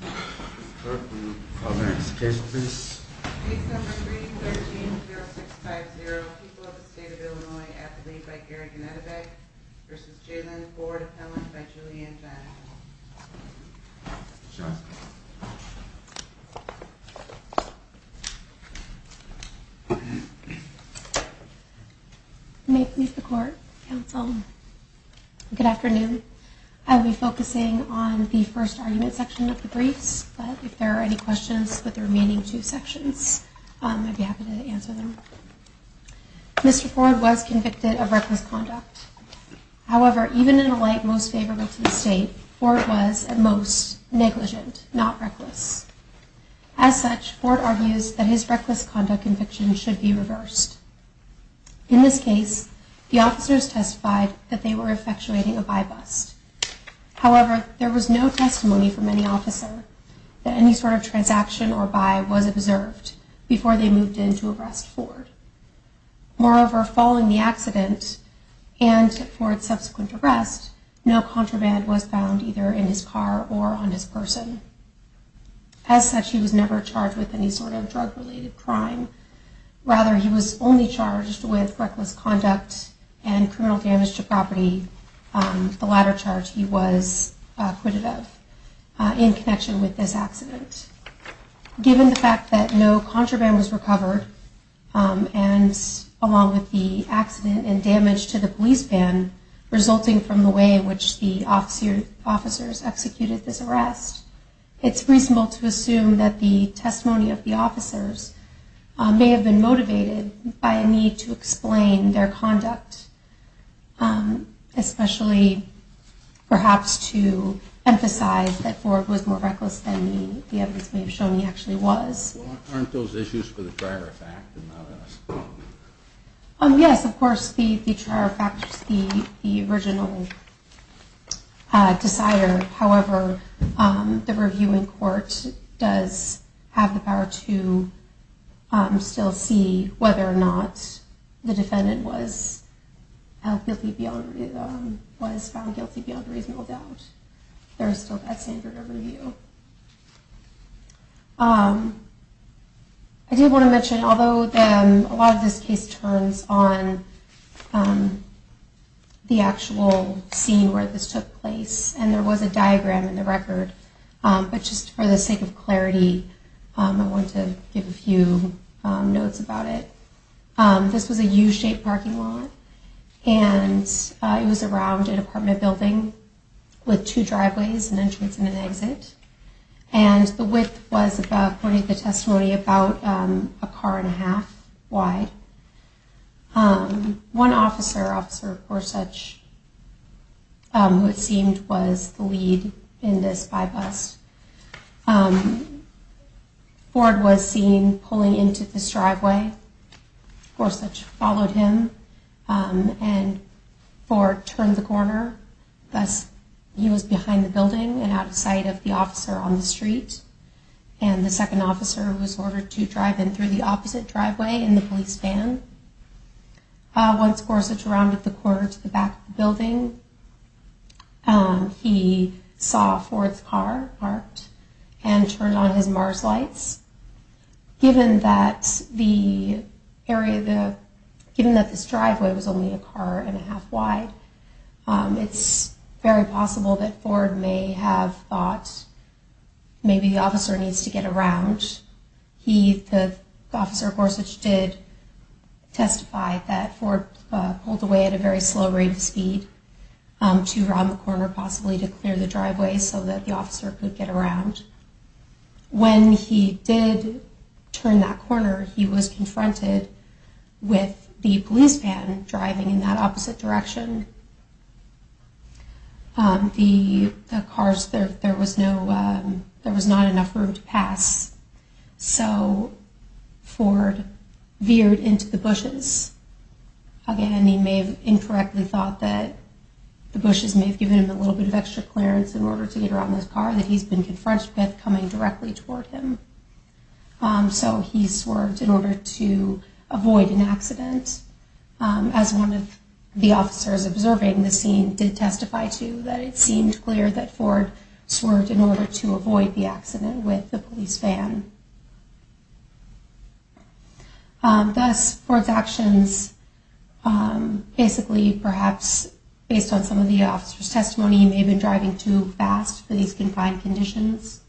13-0650, People of the State of Illinois, at the lead by Gary Ganetovec, v. Jalyn Ford-Appellant by Julianne Ginell. May it please the Court, Counsel. Good afternoon. I will be focusing on the first argument section of the briefs, but if there are any questions for the remaining two sections, I'd be happy to answer them. Mr. Ford was convicted of reckless conduct. However, even in a light most favorable to the State, Ford was, at most, negligent, not reckless. As such, Ford argues that his reckless conduct conviction should be reversed. In this case, the officers testified that they were effectuating a buy-bust. However, there was no testimony from any officer that any sort of transaction or buy was observed before they moved in to arrest Ford. Moreover, following the accident and Ford's subsequent arrest, no contraband was found either in his car or on his person. As such, he was never charged with any sort of drug-related crime. Rather, he was only charged with reckless conduct and criminal damage to property, the latter charge he was acquitted of, in connection with this accident. Given the fact that no contraband was recovered, along with the accident and damage to the police van resulting from the way in which the officers executed this arrest, it's reasonable to assume that the testimony of the officers may have been motivated by a need to explain their conduct, especially perhaps to emphasize that Ford was more reckless than the evidence may have shown he actually was. Aren't those issues for the trier effect? Yes, of course, the trier effect is the original decider. However, the reviewing court does have the power to still see whether or not the defendant was found guilty beyond reasonable doubt. There is still that standard of review. I do want to mention, although a lot of this case turns on the actual scene where this took place, and there was a diagram in the record, but just for the sake of clarity, I want to give a few notes about it. This was a U-shaped parking lot, and it was around an apartment building with two driveways, an entrance and an exit, and the width was, according to the testimony, about a car and a half wide. One officer, Officer Gorsuch, who it seemed was the lead in this bypass, Ford was seen pulling into this driveway. Gorsuch followed him, and Ford turned the corner, thus he was behind the building and out of sight of the officer on the street. The second officer was ordered to drive in through the opposite driveway in the police van. Once Gorsuch rounded the corner to the back of the building, he saw Ford's car parked and turned on his MARS lights. Given that this driveway was only a car and a half wide, it's very possible that Ford may have thought maybe the officer needs to get around. The officer, Gorsuch, did testify that Ford pulled away at a very slow rate of speed to round the corner, possibly to clear the driveway so that the officer could get around. When he did turn that corner, he was confronted with the police van driving in that opposite direction. There was not enough room to pass, so Ford veered into the bushes. Again, he may have incorrectly thought that the bushes may have given him a little bit of extra clearance in order to get around this car that he's been confronted with coming directly toward him. So he swerved in order to avoid an accident, as one of the officers observing the scene did testify to that it seemed clear that Ford swerved in order to avoid the accident with the police van. Thus, Ford's actions, basically perhaps based on some of the officer's testimony, may have been driving too fast for these confined conditions.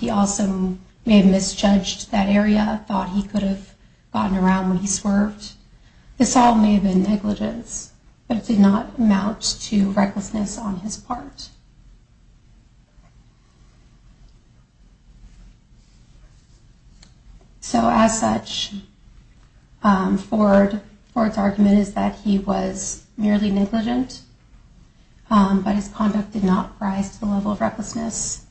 He also may have misjudged that area, thought he could have gotten around when he swerved. This all may have been negligence, but it did not amount to recklessness on his part. So as such, Ford's argument is that he was merely negligent, but his conduct did not rise to the level of recklessness,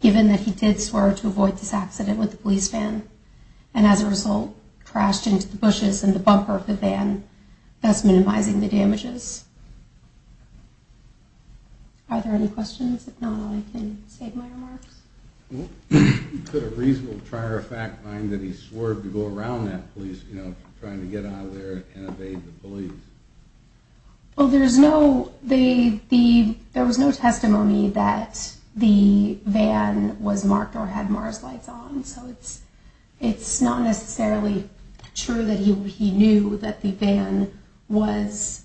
given that he did swerve to avoid this accident with the police van and as a result, crashed into the bushes in the bumper of the van, thus minimizing the damages. Are there any questions? If not, I can save my remarks. Could a reasonable trier of fact find that he swerved to go around that police, you know, trying to get out of there and evade the police? Well, there was no testimony that the van was marked or had MARS lights on, so it's not necessarily true that he knew that the van was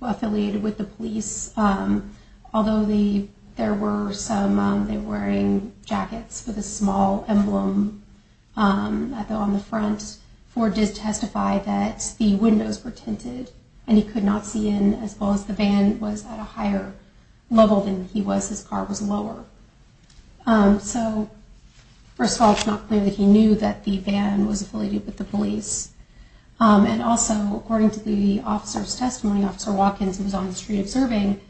affiliated with the police. Although there were some, they were wearing jackets with a small emblem on the front, Ford did testify that the windows were tinted and he could not see in as well as the van was at a higher level than he was, his car was lower. So, first of all, it's not clear that he knew that the van was affiliated with the police. And also, according to the officer's testimony, Officer Watkins, who was on the street observing,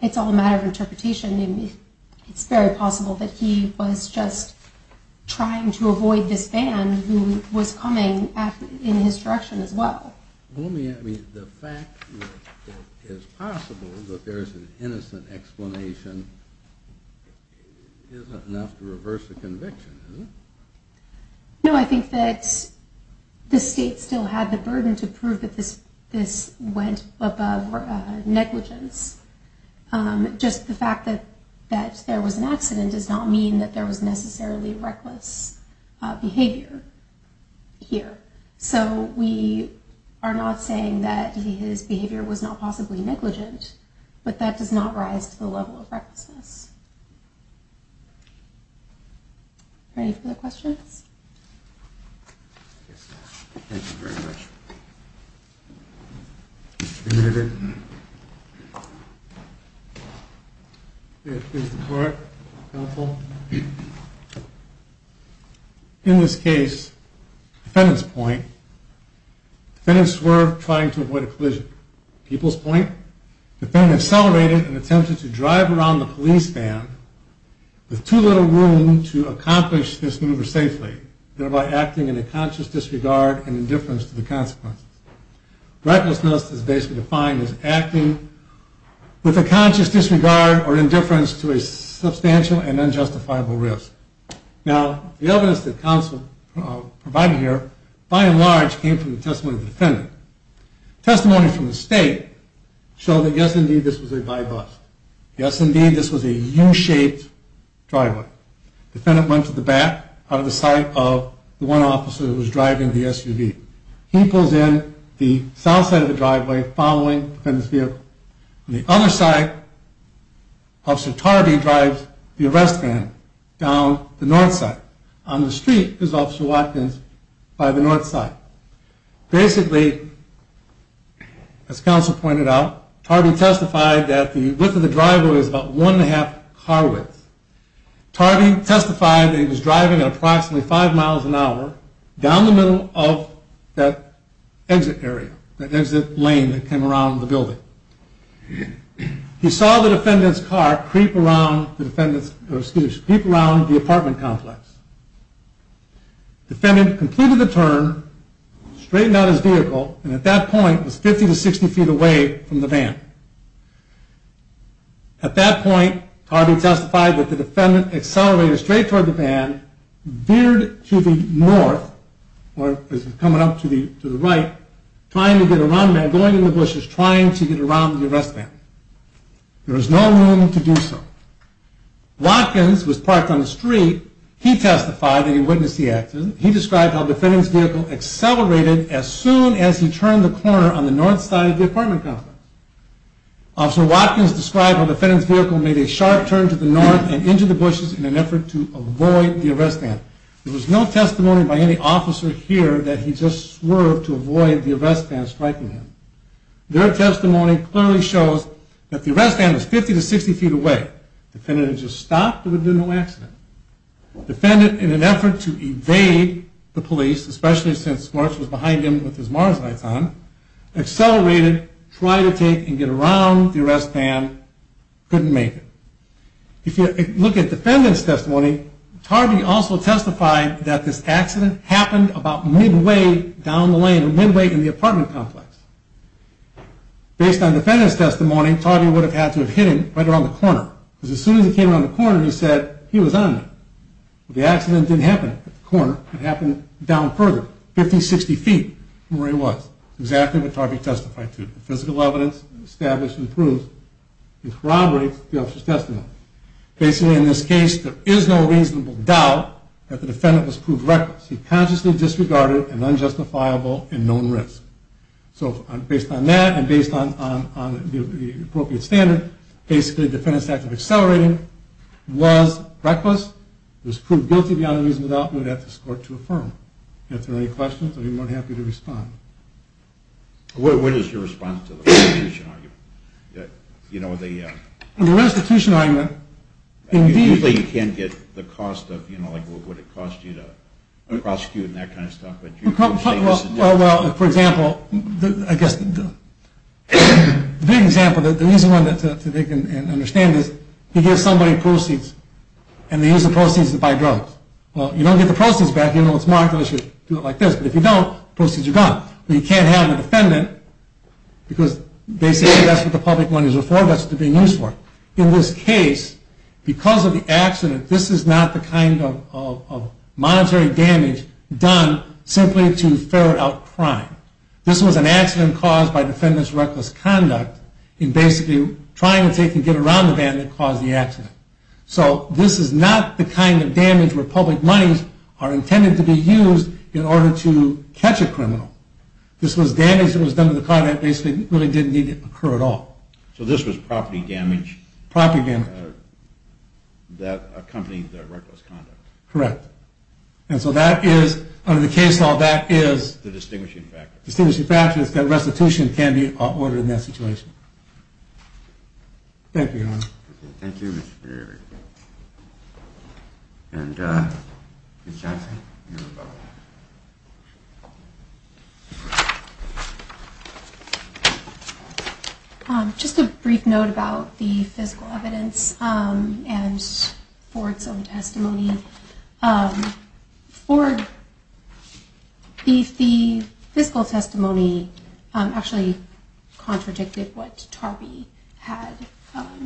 it's all a matter of interpretation. It's very possible that he was just trying to avoid this van, who was coming in his direction as well. I mean, the fact that it's possible that there's an innocent explanation isn't enough to reverse a conviction, is it? No, I think that the state still had the burden to prove that this went above negligence. Just the fact that there was an accident does not mean that there was necessarily reckless behavior here. So, we are not saying that his behavior was not possibly negligent, but that does not rise to the level of recklessness. Are there any further questions? Thank you very much. Mr. Kennedy? Yes, Mr. Clark, counsel. In this case, defendant's point, defendants were trying to avoid a collision. People's point, defendant accelerated in an attempt to drive around the police van with too little room to accomplish this maneuver safely, thereby acting in a conscious disregard and indifference to the consequences. Recklessness is basically defined as acting with a conscious disregard or indifference to a substantial and unjustifiable risk. Now, the evidence that counsel provided here, by and large, came from the testimony of the defendant. Testimony from the state showed that, yes, indeed, this was a guy bus. Yes, indeed, this was a U-shaped driveway. Defendant went to the back out of the sight of the one officer who was driving the SUV. He pulls in the south side of the driveway following the defendant's vehicle. On the other side, Officer Tarby drives the arrest van down the north side. On the street is Officer Watkins by the north side. Basically, as counsel pointed out, Tarby testified that the width of the driveway was about one and a half car width. Tarby testified that he was driving at approximately five miles an hour down the middle of that exit area, that exit lane that came around the building. He saw the defendant's car creep around the apartment complex. Defendant completed the turn, straightened out his vehicle, and at that point was 50 to 60 feet away from the van. At that point, Tarby testified that the defendant accelerated straight toward the van, veered to the north, or was coming up to the right, trying to get around the van, going in the bushes, trying to get around the arrest van. There was no room to do so. Watkins was parked on the street. He testified that he witnessed the accident. He described how the defendant's vehicle accelerated as soon as he turned the corner on the north side of the apartment complex. Officer Watkins described how the defendant's vehicle made a sharp turn to the north and into the bushes in an effort to avoid the arrest van. There was no testimony by any officer here that he just swerved to avoid the arrest van striking him. Their testimony clearly shows that the arrest van was 50 to 60 feet away. If the defendant had just stopped, there would have been no accident. The defendant, in an effort to evade the police, especially since Smarts was behind him with his Mars lights on, accelerated, tried to take and get around the arrest van, couldn't make it. If you look at the defendant's testimony, Tarby also testified that this accident happened about midway down the lane, midway in the apartment complex. Based on the defendant's testimony, Tarby would have had to have hit him right around the corner. Because as soon as he came around the corner, he said, he was on me. The accident didn't happen at the corner, it happened down further, 50 to 60 feet from where he was. That's exactly what Tarby testified to. Physical evidence established and proved corroborates the officer's testimony. Basically, in this case, there is no reasonable doubt that the defendant was proved reckless. He consciously disregarded an unjustifiable and known risk. Based on that, and based on the appropriate standard, the defendant's act of accelerating was reckless, was proved guilty beyond a reasonable doubt, and would have to escort to a firm. If there are any questions, I'd be more than happy to respond. What is your response to the restitution argument? The restitution argument, indeed... Usually you can't get the cost of what it would cost you to prosecute and that kind of stuff. Well, for example, I guess the big example, the reason why they can understand this, you give somebody proceeds, and they use the proceeds to buy drugs. Well, you don't get the proceeds back even though it's marked, unless you do it like this. But if you don't, the proceeds are gone. But you can't have the defendant, because they say that's what the public money is for, that's what they're being used for. In this case, because of the accident, this is not the kind of monetary damage done simply to ferret out crime. This was an accident caused by defendant's reckless conduct, in basically trying to get around the man that caused the accident. So this is not the kind of damage where public monies are intended to be used in order to catch a criminal. This was damage that was done to the car that really didn't need to occur at all. So this was property damage. Property damage. That accompanied the reckless conduct. Correct. And so that is, under the case law, that is... The distinguishing factor. The distinguishing factor is that restitution can be ordered in that situation. Thank you, Your Honor. Thank you, Mr. Berry. And Ms. Johnson, you have a vote. Just a brief note about the physical evidence and Ford's own testimony. Ford... The physical testimony actually contradicted what Tarpey had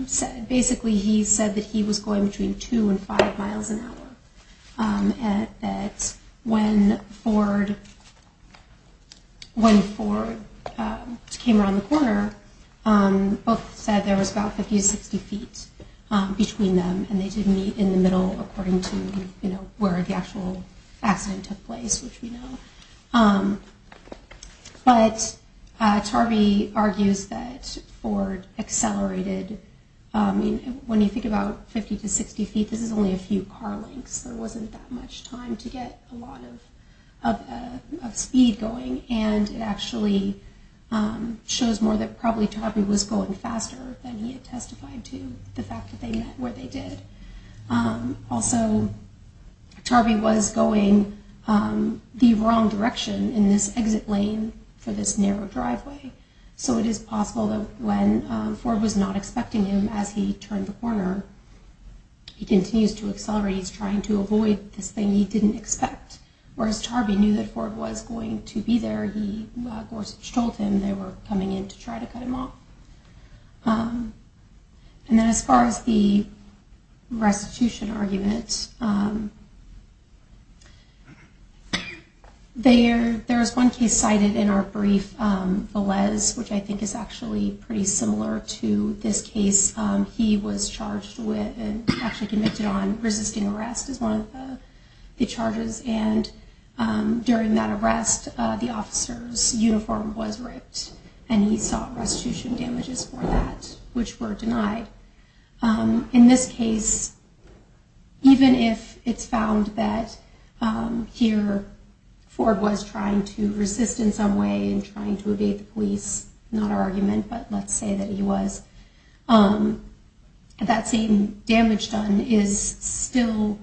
said. Basically, he said that he was going between 2 and 5 miles an hour. And that when Ford... When Ford came around the corner, both said there was about 50 to 60 feet between them. And they did meet in the middle, according to where the actual accident took place, which we know. But Tarpey argues that Ford accelerated... When you think about 50 to 60 feet, this is only a few car lengths. There wasn't that much time to get a lot of speed going. And it actually shows more that probably Tarpey was going faster than he had testified to. The fact that they met where they did. Also, Tarpey was going the wrong direction in this exit lane for this narrow driveway. So it is possible that when Ford was not expecting him as he turned the corner, he continues to accelerate. He's trying to avoid this thing he didn't expect. Whereas Tarpey knew that Ford was going to be there, Gorsuch told him they were coming in to try to cut him off. And then as far as the restitution argument, there is one case cited in our brief. Velez, which I think is actually pretty similar to this case, he was charged with resisting arrest is one of the charges. And during that arrest, the officer's uniform was ripped. And he saw restitution damages for that, which were denied. In this case, even if it's found that here Ford was trying to resist in some way and trying to evade the police, not our argument, but let's say that he was, that same damage done is still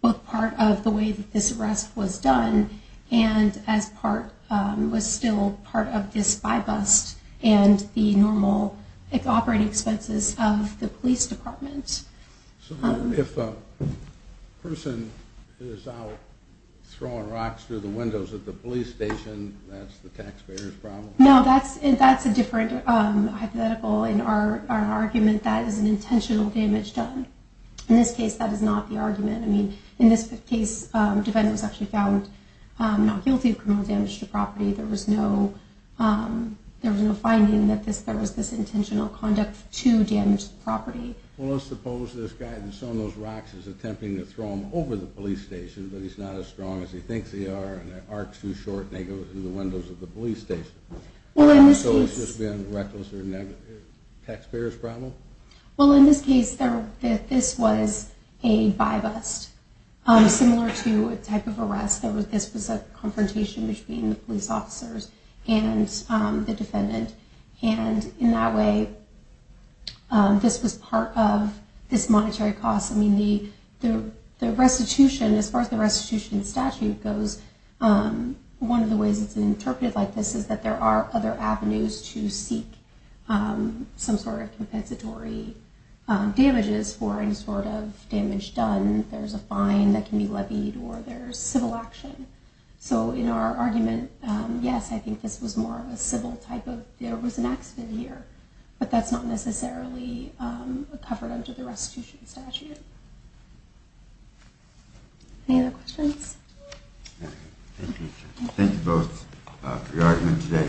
both part of the way that this arrest was done and was still part of this spy bust and the normal operating expenses of the police department. So if a person is out throwing rocks through the windows at the police station, that's the taxpayer's problem? No, that's a different hypothetical in our argument. That is an intentional damage done. In this case, that is not the argument. I mean, in this case, defendants actually found not guilty of criminal damage to property. There was no finding that there was this intentional conduct to damage the property. Well, let's suppose this guy has thrown those rocks, is attempting to throw them over the police station, but he's not as strong as he thinks they are, and the arc's too short and they go through the windows of the police station. So it's just been reckless or taxpayer's problem? Well, in this case, this was a spy bust. Similar to a type of arrest, this was a confrontation between the police officers and the defendant. And in that way, this was part of this monetary cost. I mean, the restitution, as far as the restitution statute goes, one of the ways it's interpreted like this is that there are other avenues to seek some sort of compensatory damages for any sort of damage done. There's a fine that can be levied or there's civil action. So in our argument, yes, I think this was more of a civil type of, there was an accident here. But that's not necessarily covered under the restitution statute. Any other questions? Thank you. Thank you both for your argument today.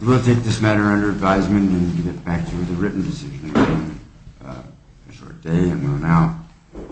We'll take this matter under advisement and get back to the written decision again. A short day and we'll now take a short break.